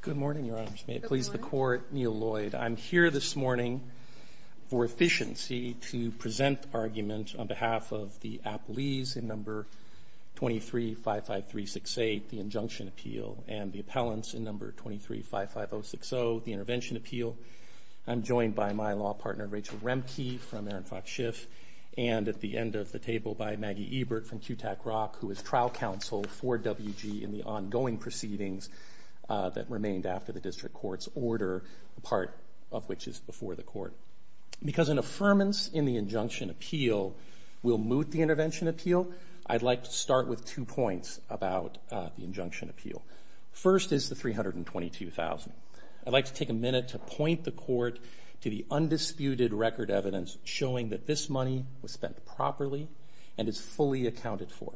Good morning, Your Honors. May it please the Court, Neal Lloyd. I'm here this morning for efficiency to present argument on behalf of the Appellees in No. 23-55368, the Injunction Appeal, and the Appellants in No. 23-55060, the Intervention Appeal. I'm joined by my law partner Rachel Remke from Aaron Fox Schiff, and at the end of the table by Maggie Ebert from QTAC Rock, who is trial counsel for WG in the ongoing proceedings that remained after the District Court's order, part of which is before the Court. Because an affirmance in the Injunction Appeal will moot the Intervention Appeal, I'd like to start with two points about the Injunction Appeal. First is the $322,000. I'd like to take a minute to point the Court to the undisputed record evidence showing that this money was spent properly and is fully accounted for.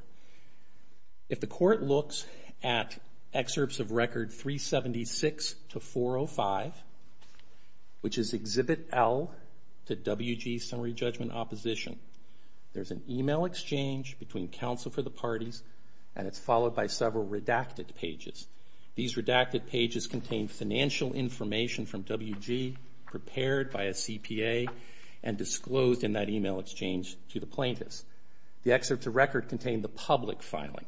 If the Court looks at excerpts of record 376-405, which is Exhibit L to WG Summary Judgment Opposition, there's an email exchange between counsel for the parties, and it's followed by several redacted pages. These redacted pages contain financial information from WG prepared by a CPA and disclosed in that email exchange to the plaintiffs. The excerpts of record contain the public filing.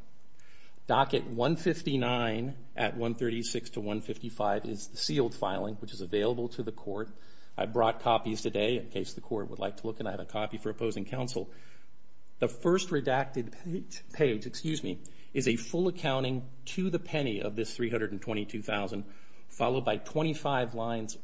Docket 159 at 136-155 is the sealed filing, which is available to the Court. I brought copies today in case the Court would like to look, and I have a copy for opposing counsel. The first redacted page is a full accounting to the penny of this $322,000, followed by 25 lines,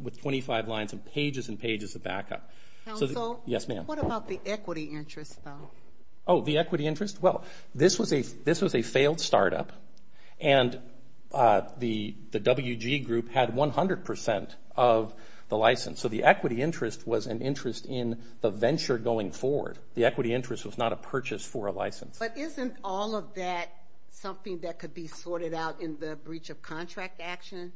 with 25 lines and pages and pages of backup. Counsel? Yes, ma'am. What about the equity interest, though? The equity interest? Well, this was a failed startup, and the WG group had 100% of the license, so the equity interest was an interest in the venture going forward. The equity interest was not a purchase for a license. But isn't all of that something that could be sorted out in the breach of contract action,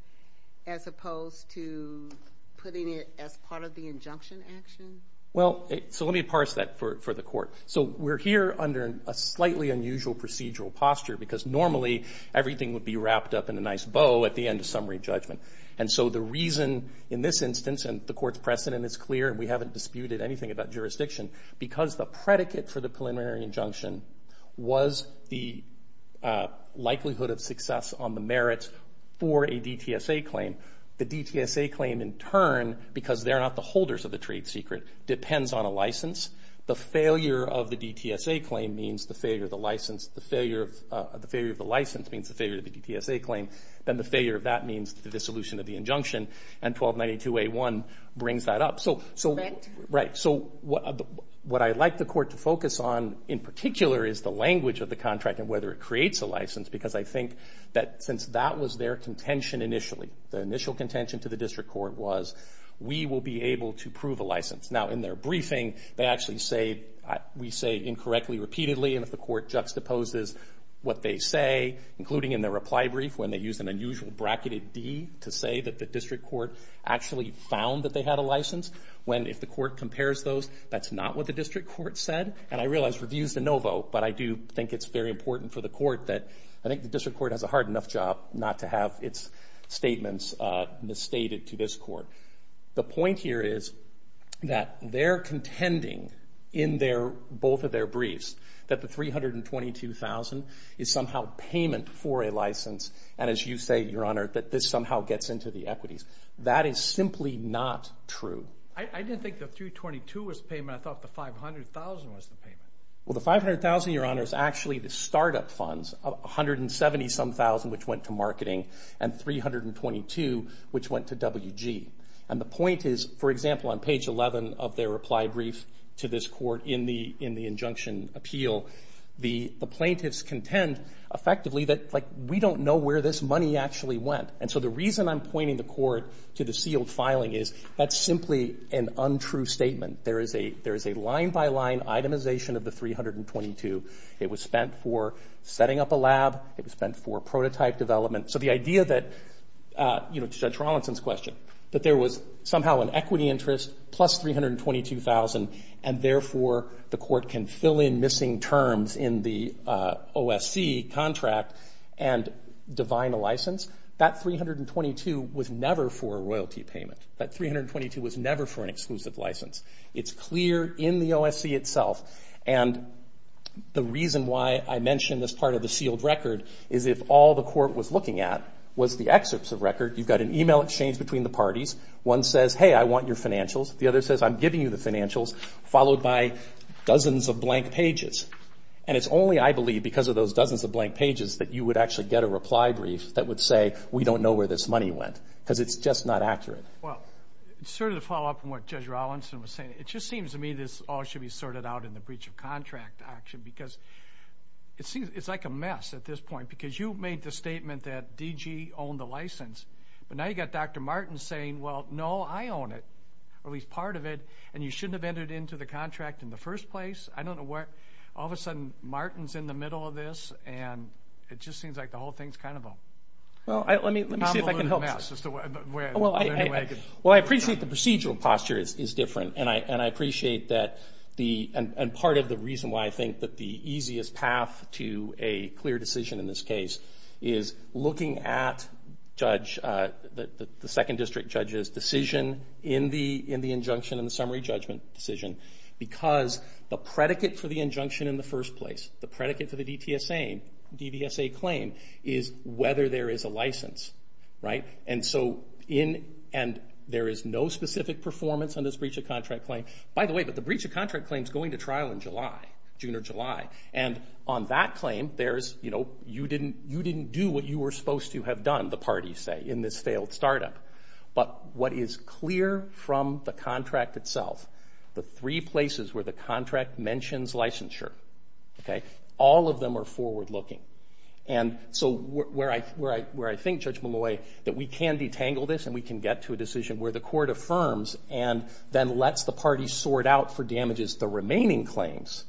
as opposed to putting it as part of the injunction action? Well, so let me parse that for the Court. So we're here under a slightly unusual procedural posture, because normally everything would be wrapped up in a nice bow at the end of summary judgment. And so the reason in this instance, and the Court's precedent is clear, and we haven't disputed anything about jurisdiction, because the predicate for the preliminary injunction was the likelihood of success on the merits for a DTSA claim. The DTSA claim in turn, because they're not the holders of the trade secret, depends on a license. The failure of the DTSA claim means the failure of the license. The failure of the license means the failure of the DTSA claim. Then the failure of that means the dissolution of the injunction, and 1292A1 brings that up. Correct. Right. So what I'd like the Court to focus on in particular is the language of the contract and whether it creates a license, because I think that since that was their contention initially, the initial contention to the District Court was, we will be able to prove a license. Now in their briefing, they actually say, we say incorrectly, repeatedly, and if the Court juxtaposes what they say, including in their reply brief, when they use an unusual bracketed D to say that the District Court actually found that they had a license, when if the Court compares those, that's not what the District Court said, and I realize review's the no vote, but I do think it's very important for the Court that, I think the District Court has a hard enough job not to have its statements misstated to this Court. The point here is that they're contending in both of their briefs that the 322,000 is somehow payment for a license, and as you say, Your Honor, that this somehow gets into the equities. That is simply not true. I didn't think the 322,000 was payment. I thought the 500,000 was the payment. Well, the 500,000, Your Honor, is actually the startup funds, 170-some thousand which went to marketing, and 322,000 which went to WG. And the point is, for example, on page 11 of their reply brief to this Court in the injunction appeal, the plaintiffs contend effectively that we don't know where this money actually went, and so the reason I'm an untrue statement. There is a line-by-line itemization of the 322. It was spent for setting up a lab. It was spent for prototype development. So the idea that, you know, to Judge Rawlinson's question, that there was somehow an equity interest plus 322,000, and therefore the Court can fill in missing terms in the OSC contract and divine a license, that 322 was never for an exclusive license. It's clear in the OSC itself, and the reason why I mention this part of the sealed record is if all the Court was looking at was the excerpts of record, you've got an email exchange between the parties. One says, hey, I want your financials. The other says, I'm giving you the financials, followed by dozens of blank pages. And it's only, I believe, because of those dozens of blank pages that you would actually get a reply brief that would say, we don't know where this money went, because it's just not from what Judge Rawlinson was saying. It just seems to me this all should be sorted out in the breach of contract action, because it's like a mess at this point, because you made the statement that DG owned the license, but now you've got Dr. Martin saying, well, no, I own it, or at least part of it, and you shouldn't have entered into the contract in the first place. I don't know where, all of a sudden, Martin's in the middle of this, and it just seems like the whole thing's kind of a convoluted mess, is the way I could... And I appreciate that, and part of the reason why I think that the easiest path to a clear decision in this case is looking at the second district judge's decision in the injunction in the summary judgment decision, because the predicate for the injunction in the first place, the predicate for the DVSA claim, is whether there is a license. And there is no specific performance on this breach of contract claim. By the way, but the breach of contract claim's going to trial in July, June or July, and on that claim, you didn't do what you were supposed to have done, the parties say, in this failed startup. But what is clear from the contract itself, the three places where the contract mentions licensure, all of them are forward-looking. And so where I think, Judge Malloy, that we can detangle this and we can get to a decision where the court affirms and then lets the parties sort out for damages the remaining claims,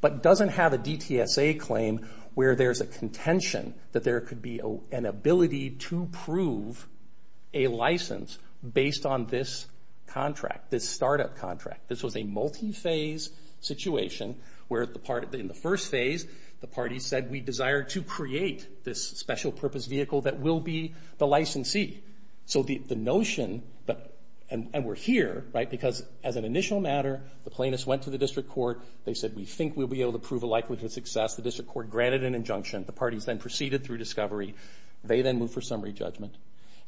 but doesn't have a DTSA claim where there's a contention that there could be an ability to prove a license based on this contract, this startup contract. This was a multi-phase situation, where in the first phase, the parties said, we desire to create this special purpose vehicle that will be the licensee. So the notion, and we're here, right, because as an initial matter, the plaintiffs went to the district court, they said, we think we'll be able to prove a likelihood of success. The district court granted an injunction. The parties then proceeded through discovery. They then moved for summary judgment.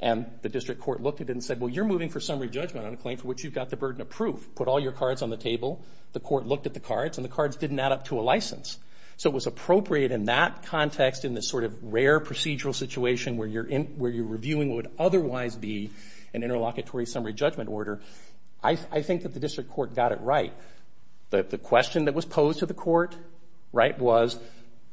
And the district court looked at it and said, well, you're moving for summary judgment on a claim for which you've got the burden of proof. Put all your cards on the table. The court looked at the cards, and the cards didn't add up to a license. So it was appropriate in that context, in this sort of rare procedural situation where you're reviewing what would otherwise be an interlocutory summary judgment order. I think that the district court got it right. The question that was posed to the court, right, was,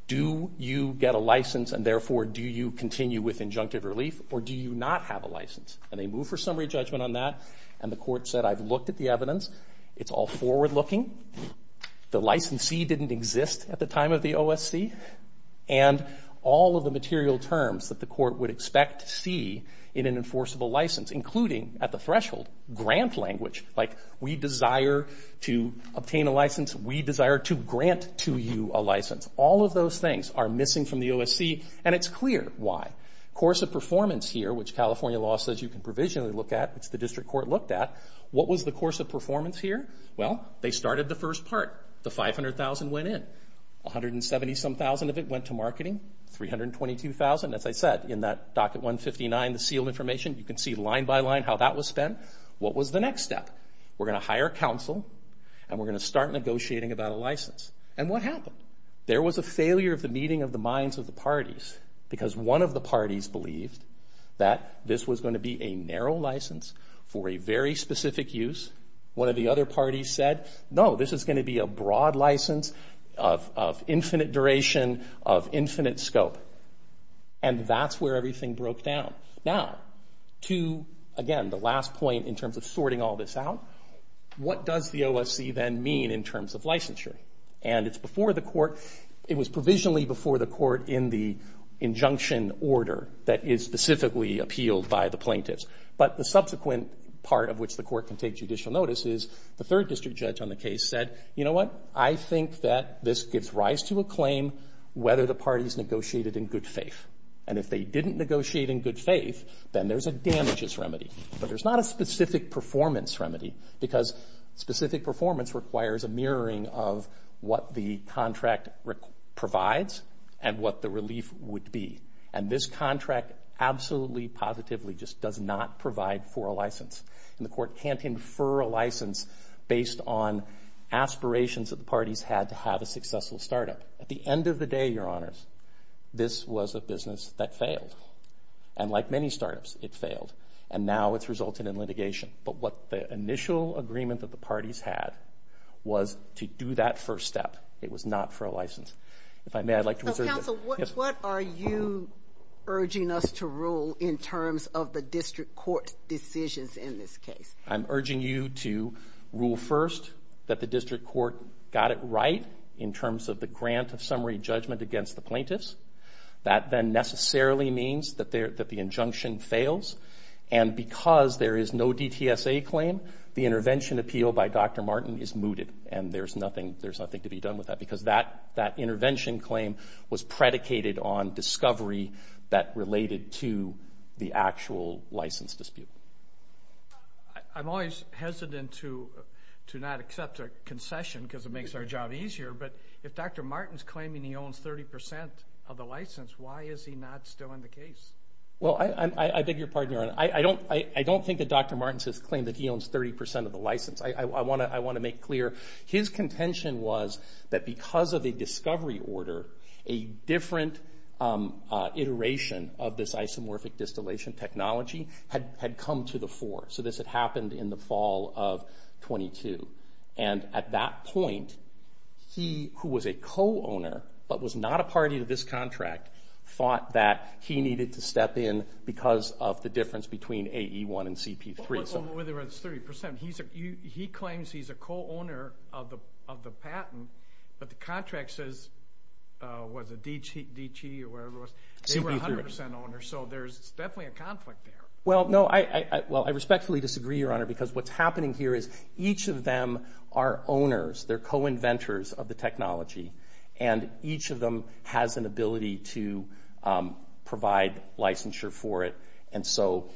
do you get a license and therefore do you continue with injunctive relief, or do you not have a license? And they moved for summary judgment on that, and the court said, I've looked at the evidence. It's all forward-looking. The licensee didn't exist at the time of the OSC. And all of the material terms that the court would expect to see in an enforceable license, including at the threshold, grant language, like we desire to obtain a license, we desire to grant to you a license. All of those things are missing from the OSC, and it's clear why. Course of performance here, which California law says you can provisionally look at, which the district court looked at, what was the course of performance here? Well, they started the first part. The $500,000 went in. $170,000 of it went to marketing. $322,000, as I said, in that docket 159, the sealed information, you can see line by line how that was spent. What was the next step? We're going to hire counsel and we're going to start negotiating about a license. And what happened? There was a failure of the meeting of the minds of the parties, because one of the parties believed that this was going to be a narrow license for a very specific use. One of the other parties said, no, this is going to be a broad license of infinite duration, of infinite scope. And that's where everything broke down. Now, to, again, the last point in terms of sorting all this out, what does the OSC then mean in terms of licensure? And it's before the court in the injunction order that is specifically appealed by the plaintiffs. But the subsequent part of which the court can take judicial notice is the third district judge on the case said, you know what? I think that this gives rise to a claim whether the parties negotiated in good faith. And if they didn't negotiate in good faith, then there's a damages remedy. But there's not a specific performance remedy, because specific performance requires a mirroring of what the contract provides and what the relief would be. And this contract absolutely positively just does not provide for a license. And the court can't infer a license based on aspirations that the parties had to have a successful startup. At the end of the day, Your Honors, this was a business that failed. And like many startups, it failed. And now it's resulted in litigation. But what the initial agreement that the parties had was to do that first step. It was not for a license. If I may, I'd like to reserve So, counsel, what are you urging us to rule in terms of the district court decisions in this case? I'm urging you to rule first that the district court got it right in terms of the grant of summary judgment against the plaintiffs. That then necessarily means that the injunction fails. And because there is no DTSA claim, the intervention appeal by Dr. Martin is mooted. And there's nothing to be done with that, because that intervention claim was predicated on discovery that related to the actual license dispute. I'm always hesitant to not accept a concession, because it makes our job easier. But if Dr. Martin's claiming he owns 30% of the license, why is he not still in the case? Well, I beg your pardon, Your Honor. I don't think that Dr. Martin has claimed that he owns 30% of the license. I want to make clear. His contention was that because of a discovery order, a different iteration of this isomorphic distillation technology had come to the fore. So this had happened in the fall of 22. And at that point, he, who was a co-owner, but was not a party to this contract, thought that he needed to step in because of the difference between AE-1 and CP-3. Well, whether it's 30%. He claims he's a co-owner of the patent, but the contract says, was it DT or whatever it was, they were 100% owners. So there's definitely a conflict there. Well, no. Well, I respectfully disagree, Your Honor, because what's happening here is each of them are owners. They're co-inventors of the technology. And each of them has an ability to provide licensure for it. And so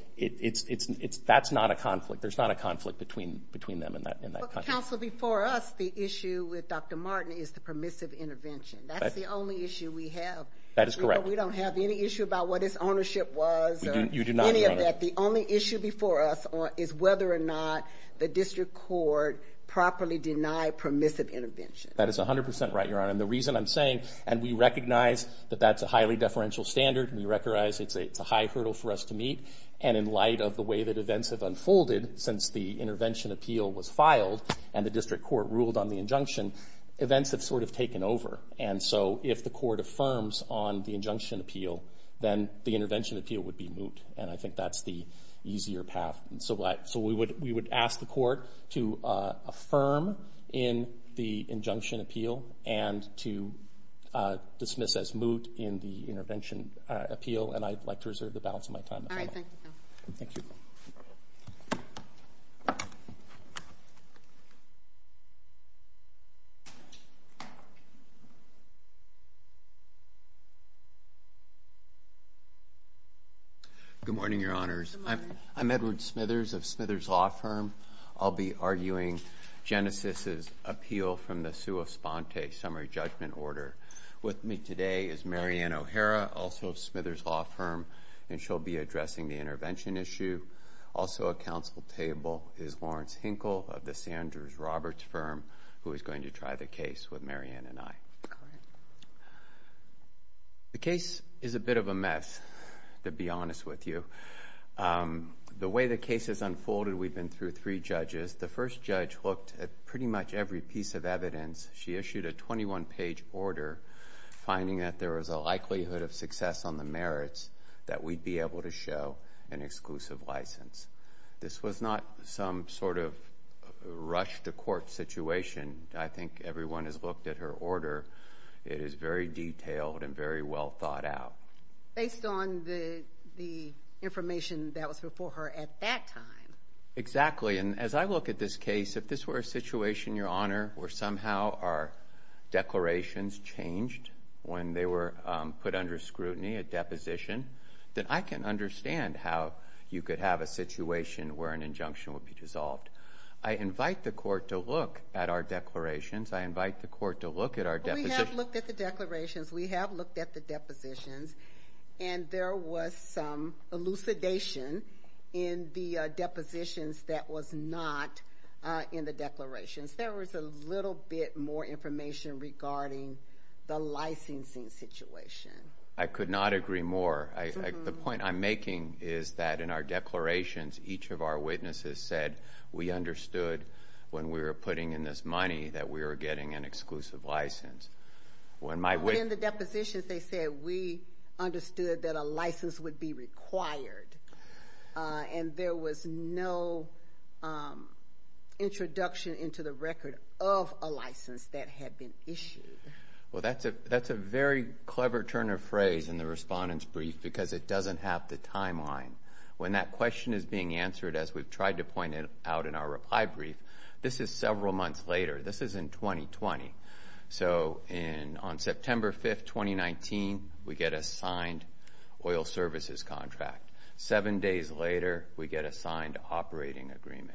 that's not a conflict. There's not a conflict between them and that contract. Well, counsel, before us, the issue with Dr. Martin is the permissive intervention. That's the only issue we have. That is correct. We don't have any issue about what his ownership was or any of that. The only issue before us is whether or not the district court properly denied permissive intervention. That is 100% right, Your Honor. And the reason I'm saying, and we recognize that that's a highly deferential standard. We recognize it's a high hurdle for us to meet. And in light of the way that events have unfolded since the intervention appeal was filed and the district court ruled on the injunction, events have sort of taken over. And so if the court affirms on the injunction appeal, then the intervention appeal would be moot. And I think that's the easier path. So we would ask the court to affirm in the injunction appeal and to dismiss as moot in the intervention appeal. And I'd like to reserve the balance of my time. All right. Thank you. Thank you. Good morning, Your Honors. I'm Edward Smithers of Smithers Law Firm. I'll be arguing Genesis's appeal from the Sua Sponte Summary Judgment Order. With me today is Mary Ann O'Hara, also of Smithers Law Firm. And she'll be addressing the intervention issue. Also at counsel table is Lawrence Hinkle of the Sanders Roberts Firm, who is going to try the case with Mary Ann and I. The case is a bit of a mess, to be honest with you. The way the case has unfolded, we've been through three judges. The first judge looked at pretty much every piece of evidence. She issued a 21-page order, finding that there was a likelihood of success on the merits that we'd be able to show an exclusive license. This was not some sort of rush-to-court situation. I think everyone has looked at her order. It is very detailed and very well thought out. Based on the information that was before her at that time. Exactly. And as I look at this case, if this were a situation, Your Honor, where somehow our declarations changed when they were put under scrutiny, a deposition, then I can understand how you could have a situation where an injunction would be dissolved. I invite the court to look at our declarations. I invite the court to look at our deposition. We have looked at the declarations. We have looked at the depositions. And there was some elucidation in the depositions that was not in the declarations. There was a little bit more information regarding the licensing situation. I could not agree more. The point I'm making is that in our declarations, each of our witnesses said we understood when we were putting in this money that we were getting an exclusive license. But in the depositions, they said we understood that a license would be required. And there was no introduction into the record of a license that had been issued. Well, that's a very clever turn of phrase in the Respondent's Brief because it doesn't have the timeline. When that question is being answered, as we've tried to point out in our Supply Brief, this is several months later. This is in 2020. So on September 5th, 2019, we get a signed oil services contract. Seven days later, we get a signed operating agreement.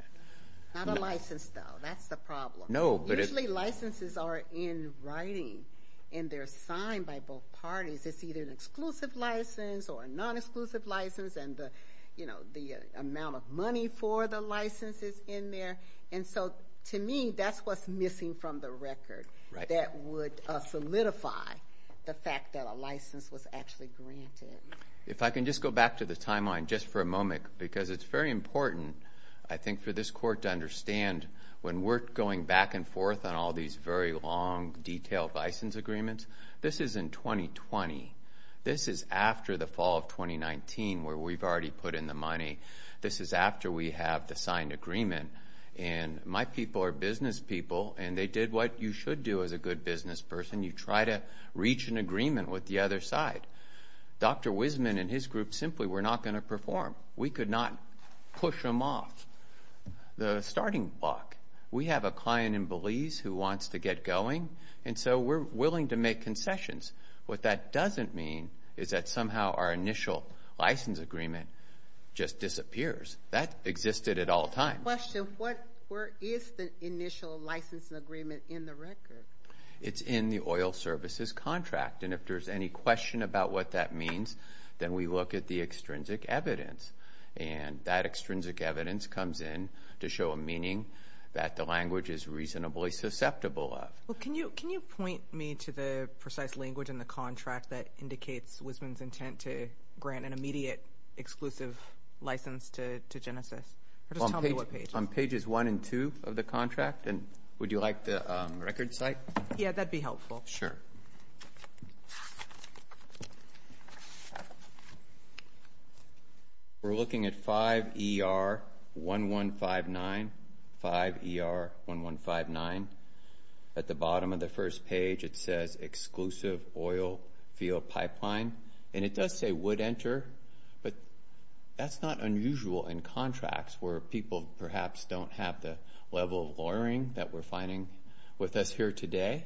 Not a license, though. That's the problem. Usually licenses are in writing, and they're signed by both parties. It's either an exclusive license or a non-exclusive license. And the amount of money for the license is in there. And so to me, that's what's missing from the record that would solidify the fact that a license was actually granted. If I can just go back to the timeline just for a moment, because it's very important, I think, for this Court to understand when we're going back and forth on all these very long, detailed license agreements, this is in 2020. This is after the fall of 2019 where we've already put in the money. This is after we have the signed agreement. And my people are business people, and they did what you should do as a good business person. You try to reach an agreement with the other side. Dr. Wiseman and his group simply were not going to perform. We could not push them off the starting block. We have a client in Belize who wants to get going, and so we're willing to make concessions. What that doesn't mean is that somehow our initial license agreement just disappears. That existed at all times. I have a question. Where is the initial license agreement in the record? It's in the oil services contract. And if there's any question about what that means, then we look at the extrinsic evidence. And that extrinsic evidence comes in to show a meaning that the language is reasonably susceptible of. Well, can you point me to the precise language in the contract that indicates Wiseman's intent to grant an immediate exclusive license to Genesys? Or just tell me what page. On pages one and two of the contract. And would you like the record site? Sure. We're looking at 5ER1159. 5ER1159. At the bottom of the first page, it says exclusive oil field pipeline. And it does say would enter, but that's not unusual in contracts where people perhaps don't have the level of lawyering that we're finding with us here today.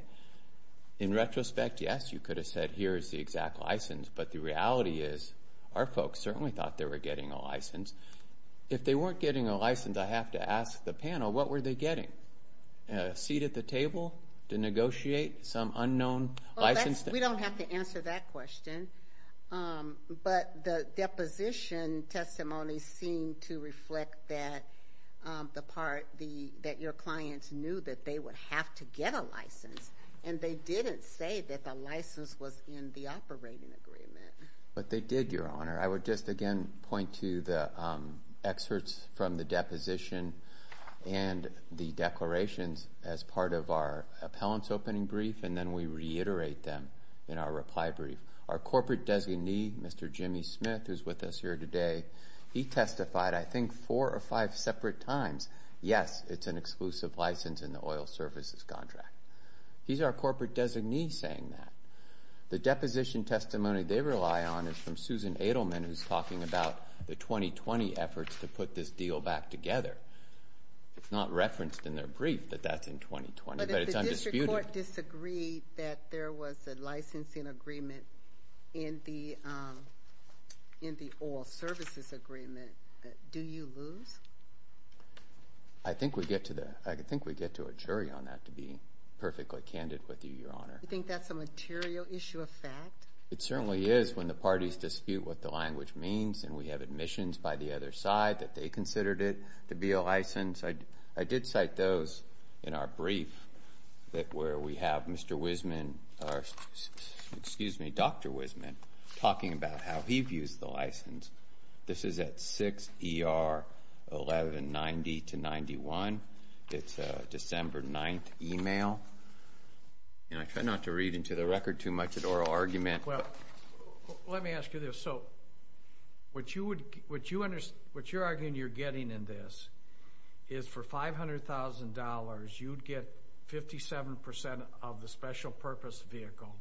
In retrospect, yes, you could have said here is the exact license. But the reality is our folks certainly thought they were getting a license. If they weren't getting a license, I have to ask the panel, what were they getting? A seat at the table to negotiate some unknown license? We don't have to answer that question. But the deposition testimony seemed to reflect that your clients knew that they would have to get a license. And they didn't say that the license was in the operating agreement. But they did, Your Honor. I would just again point to the excerpts from the deposition and the declarations as part of our appellant's opening brief. And then we reiterate them in our reply brief. Our corporate designee, Mr. Jimmy Smith, who's with us here today, he testified I think four or five separate times, yes, it's an exclusive license in the oil services contract. He's our corporate designee saying that. The deposition testimony they rely on is from Susan Adelman, who's talking about the 2020 efforts to put this deal back together. It's not referenced in their brief that that's in 2020, but it's undisputed. If your court disagreed that there was a licensing agreement in the oil services agreement, do you lose? I think we get to a jury on that, to be perfectly candid with you, Your Honor. Do you think that's a material issue of fact? It certainly is when the parties dispute what the language means. And we have admissions by the other side that they considered it to be a license. I did cite those in our brief that where we have Mr. Wiseman, excuse me, Dr. Wiseman, talking about how he views the license. This is at 6 ER 1190 to 91. It's a December 9th email. And I try not to read into the record too much at oral argument. Well, let me ask you this. So what you're arguing you're getting in this is for $500,000 you'd get 57% of the special purpose vehicle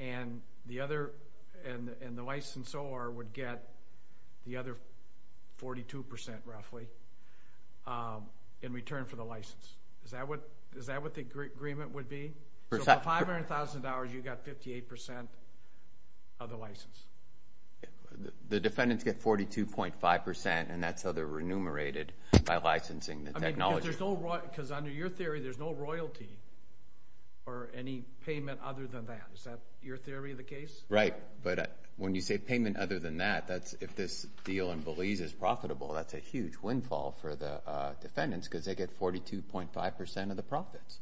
and the other and the licensor would get the other 42% roughly in return for the license. Is that what the agreement would be? For $500,000 you got 58% of the license. The defendants get 42.5% and that's how they're remunerated by licensing the technology. Because under your theory, there's no royalty or any payment other than that. Is that your theory of the case? Right. But when you say payment other than that, that's if this deal in Belize is profitable, that's a huge windfall for the defendants because they get 42.5% of the profits.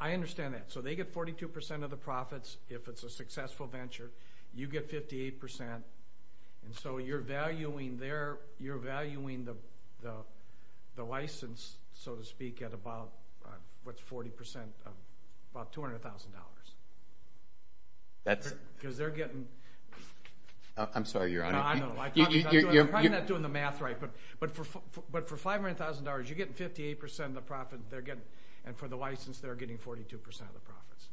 I understand that. So they get 42% of the profits if it's a successful venture, you are valuing the license, so to speak, at about $200,000. I'm sorry, Your Honor. I know. I'm probably not doing the math right. But for $500,000 you're getting 58% of the profit and for the license they're getting 42% of the profits.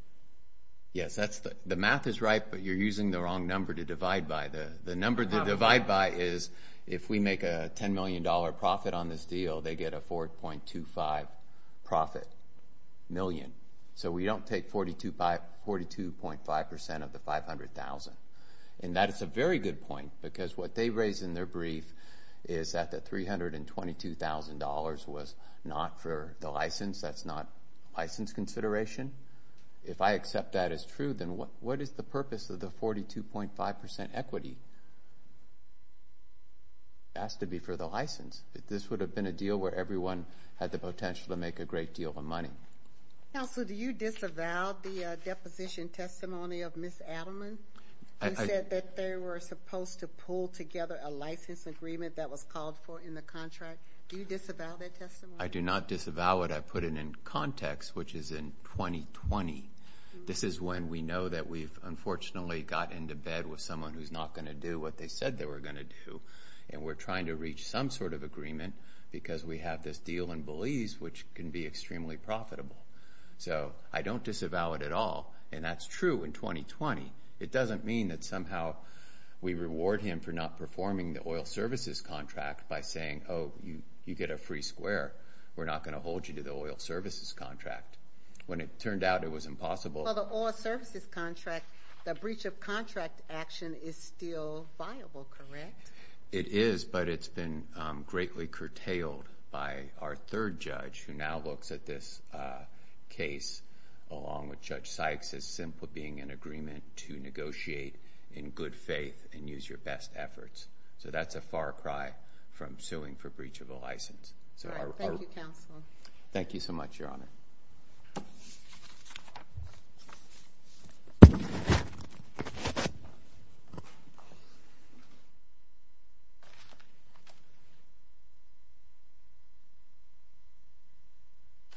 Yes, the math is right but you're using the wrong number to divide by. The number to divide by is if we make a $10 million profit on this deal, they get a 4.25 profit million. So we don't take 42.5% of the $500,000. And that is a very good point because what they raised in their brief is that the $322,000 was not for the license. That's not license consideration. If I accept that as true, then what is the purpose of the 42.5% equity? It has to be for the license. This would have been a deal where everyone had the potential to make a great deal of money. Counsel, do you disavow the deposition testimony of Ms. Adelman who said that they were supposed to pull together a license agreement that was called for in the contract? Do you disavow that testimony? I do not disavow it. I put it in context, which is in 2020. This is when we know that we've unfortunately got into bed with someone who's not going to do what they said they were going to do. And we're trying to reach some sort of agreement because we have this deal in Belize which can be extremely profitable. So I don't disavow it at all. And that's true in 2020. It doesn't mean that somehow we reward him for not performing the oil services contract by saying, oh, you get a free square. We're not going to hold you to the oil services contract. When it turned out it was impossible. Well, the oil services contract, the breach of contract action is still viable, correct? It is, but it's been greatly curtailed by our third judge who now looks at this case along with Judge Sykes as simply being an agreement to negotiate in good faith and use your best efforts. So that's a far cry from suing for breach of a license. Thank you, Counsel. Thank you so much, Your Honor.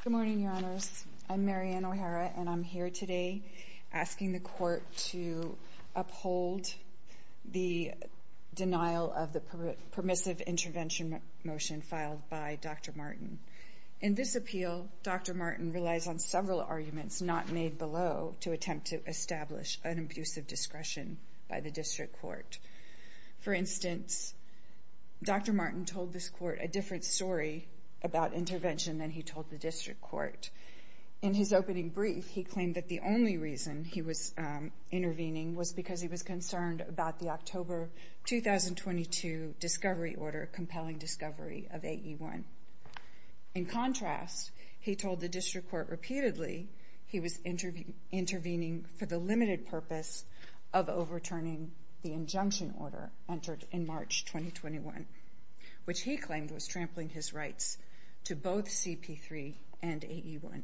Good morning, Your Honors. I'm Marian O'Hara, and I'm here today asking the Court to uphold the denial of the permissive intervention motion filed by Dr. Martin. In this appeal, Dr. Martin relies on several arguments not made below to attempt to establish an abuse of discretion by the District Court. For instance, Dr. Martin told this Court a different story about intervention than he told the District Court. In his opening brief, he claimed that the only reason he was intervening was because he was concerned about the October 2022 discovery order, compelling discovery of AE1. In contrast, he told the District Court repeatedly he was intervening for the limited purpose of overturning the injunction order entered in March 2021, which he claimed was trampling his rights to both CP3 and AE1.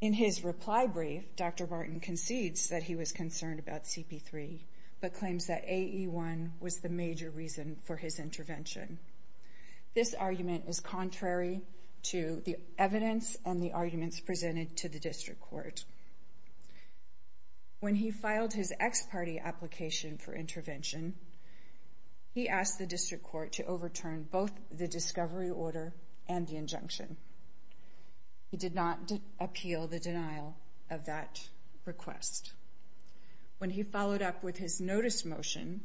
In his reply brief, Dr. Martin concedes that he was concerned about CP3, but claims that AE1 was the major reason for his intervention. This argument is contrary to the evidence and the arguments presented to the District Court. When he filed his ex-party application for intervention, he asked the District Court to overturn both the discovery order and the denial of that request. When he followed up with his notice motion,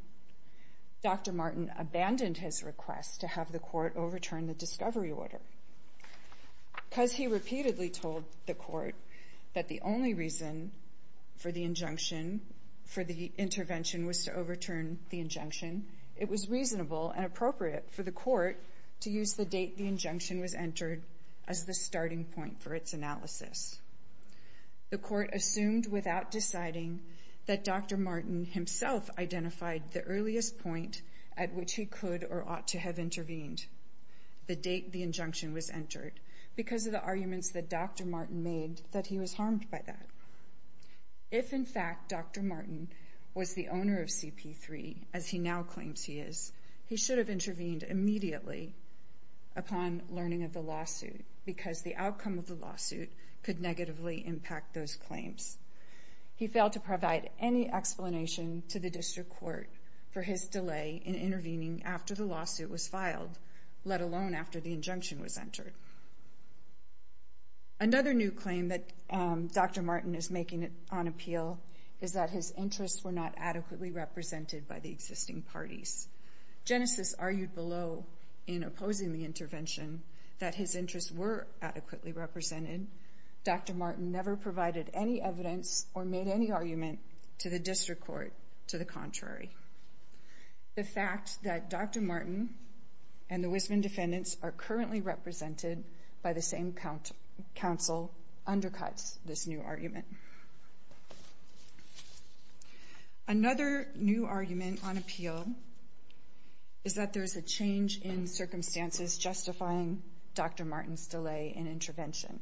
Dr. Martin abandoned his request to have the Court overturn the discovery order. Because he repeatedly told the Court that the only reason for the intervention was to overturn the injunction, it was reasonable and appropriate for the Court to use the date the injunction was entered as the starting point for its analysis. The Court assumed without deciding that Dr. Martin himself identified the earliest point at which he could or ought to have intervened, the date the injunction was entered, because of the arguments that Dr. Martin made that he was harmed by that. If in fact Dr. Martin was the owner of CP3, as he now claims he is, he should have intervened immediately upon learning of the lawsuit, because the outcome of the lawsuit could negatively impact those claims. He failed to provide any explanation to the District Court for his delay in intervening after the lawsuit was filed, let alone after the injunction was entered. Another new claim that Dr. Martin is making on appeal is that his interests were not adequately represented by the existing parties. Genesis argued below in opposing the intervention that his interests were adequately represented. Dr. Martin never provided any evidence or made any argument to the District Court to the contrary. The fact that Dr. Martin and the Wisman defendants are currently represented by the same counsel undercuts this new argument. Another new argument on appeal is that the there's a change in circumstances justifying Dr. Martin's delay in intervention.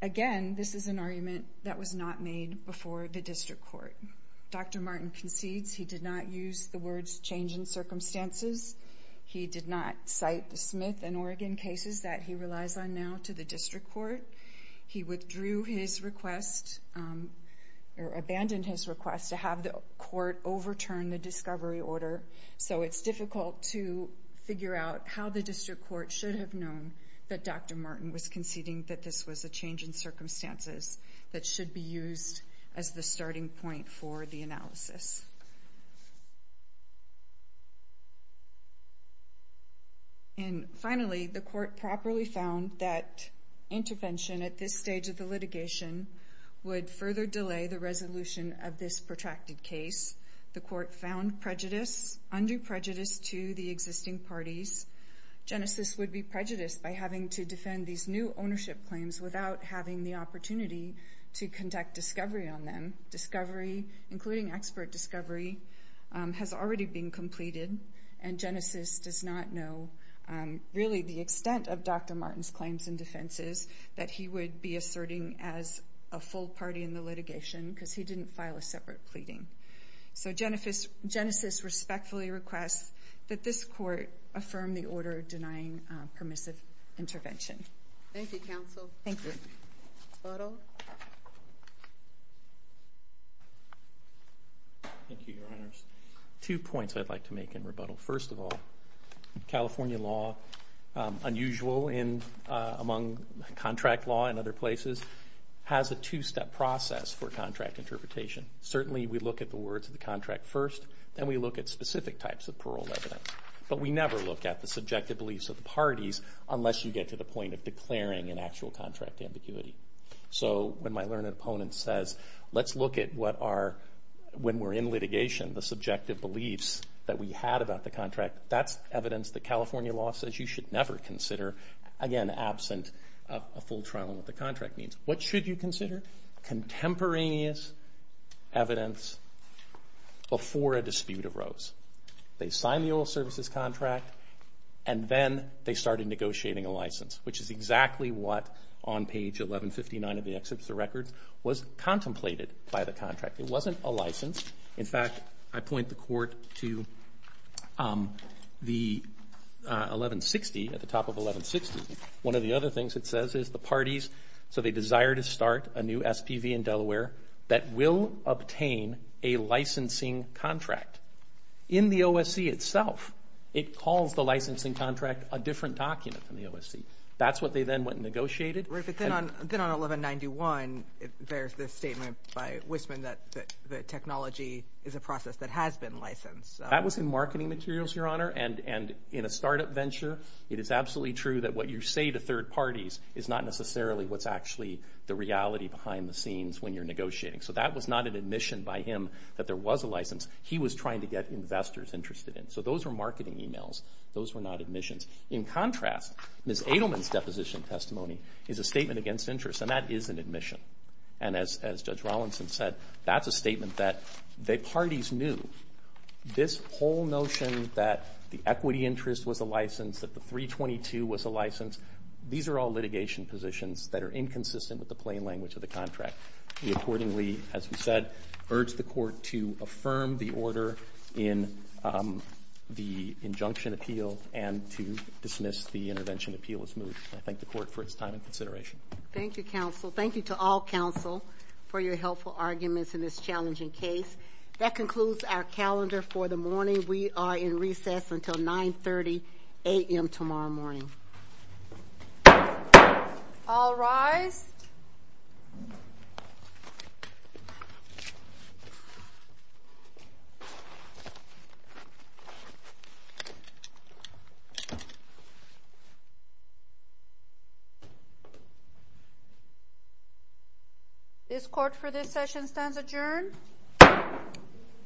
Again, this is an argument that was not made before the District Court. Dr. Martin concedes he did not use the words change in circumstances. He did not cite the Smith and Oregon cases that he relies on now to the District Court. He withdrew his request, or abandoned his reorder, so it's difficult to figure out how the District Court should have known that Dr. Martin was conceding that this was a change in circumstances that should be used as the starting point for the analysis. Finally, the Court properly found that intervention at this stage of the litigation would further delay the resolution of this protracted case. The Court found prejudice, undue prejudice, to the existing parties. Genesis would be prejudiced by having to defend these new ownership claims without having the opportunity to conduct discovery on them. Discovery, including expert discovery, has already been completed, and Genesis does not know really the extent of Dr. Martin's claims and defenses that he would be asserting as a full party in the litigation, because he didn't file a separate pleading. So Genesis respectfully requests that this Court affirm the order denying permissive intervention. Thank you, Counsel. Thank you. Rebuttal? Thank you, Your Honors. Two points I'd like to make in rebuttal. First of all, California law, unusual among contract law in other places, has a two-step process for contract interpretation. Certainly we look at the words of the contract first, then we look at specific types of parole evidence. But we never look at the subjective beliefs of the parties unless you get to the point of declaring an actual contract ambiguity. So when my learned opponent says, let's look at what are, when we're in litigation, the subjective beliefs that we had about the contract, that's evidence that California law says you should never consider, again, absent a full trial on what the contract means. What should you consider? Contemporaneous evidence before a dispute arose. They signed the oil services contract, and then they started negotiating a license, which is exactly what, on page 1159 of the Exhibit of Records, was contemplated by the contract. It wasn't a license. In fact, I point the Court to the 1160, at the third parties, so they desire to start a new SPV in Delaware that will obtain a licensing contract. In the OSC itself, it calls the licensing contract a different document from the OSC. That's what they then went and negotiated. Right, but then on 1191, there's this statement by Wissman that the technology is a process that has been licensed. That was in marketing materials, Your Honor, and in a startup venture, it is absolutely true that what you say to third parties is not necessarily what's actually the reality behind the scenes when you're negotiating. So that was not an admission by him that there was a license. He was trying to get investors interested in it. So those were marketing emails. Those were not admissions. In contrast, Ms. Adelman's deposition testimony is a statement against interest, and that is an admission. And as Judge Rawlinson said, that's a statement that the parties knew. This whole notion that the equity interest was a license, that the 322 was a license, these are all litigation positions that are inconsistent with the plain language of the contract. We accordingly, as we said, urge the Court to affirm the order in the injunction appeal and to dismiss the intervention appeal as moved. I thank the Court for its time and consideration. Thank you, counsel. Thank you to all counsel for your helpful arguments in this challenging case. That concludes our calendar for the morning. We are in recess until 9.30 a.m. tomorrow morning. All rise. This Court for this session stands adjourned.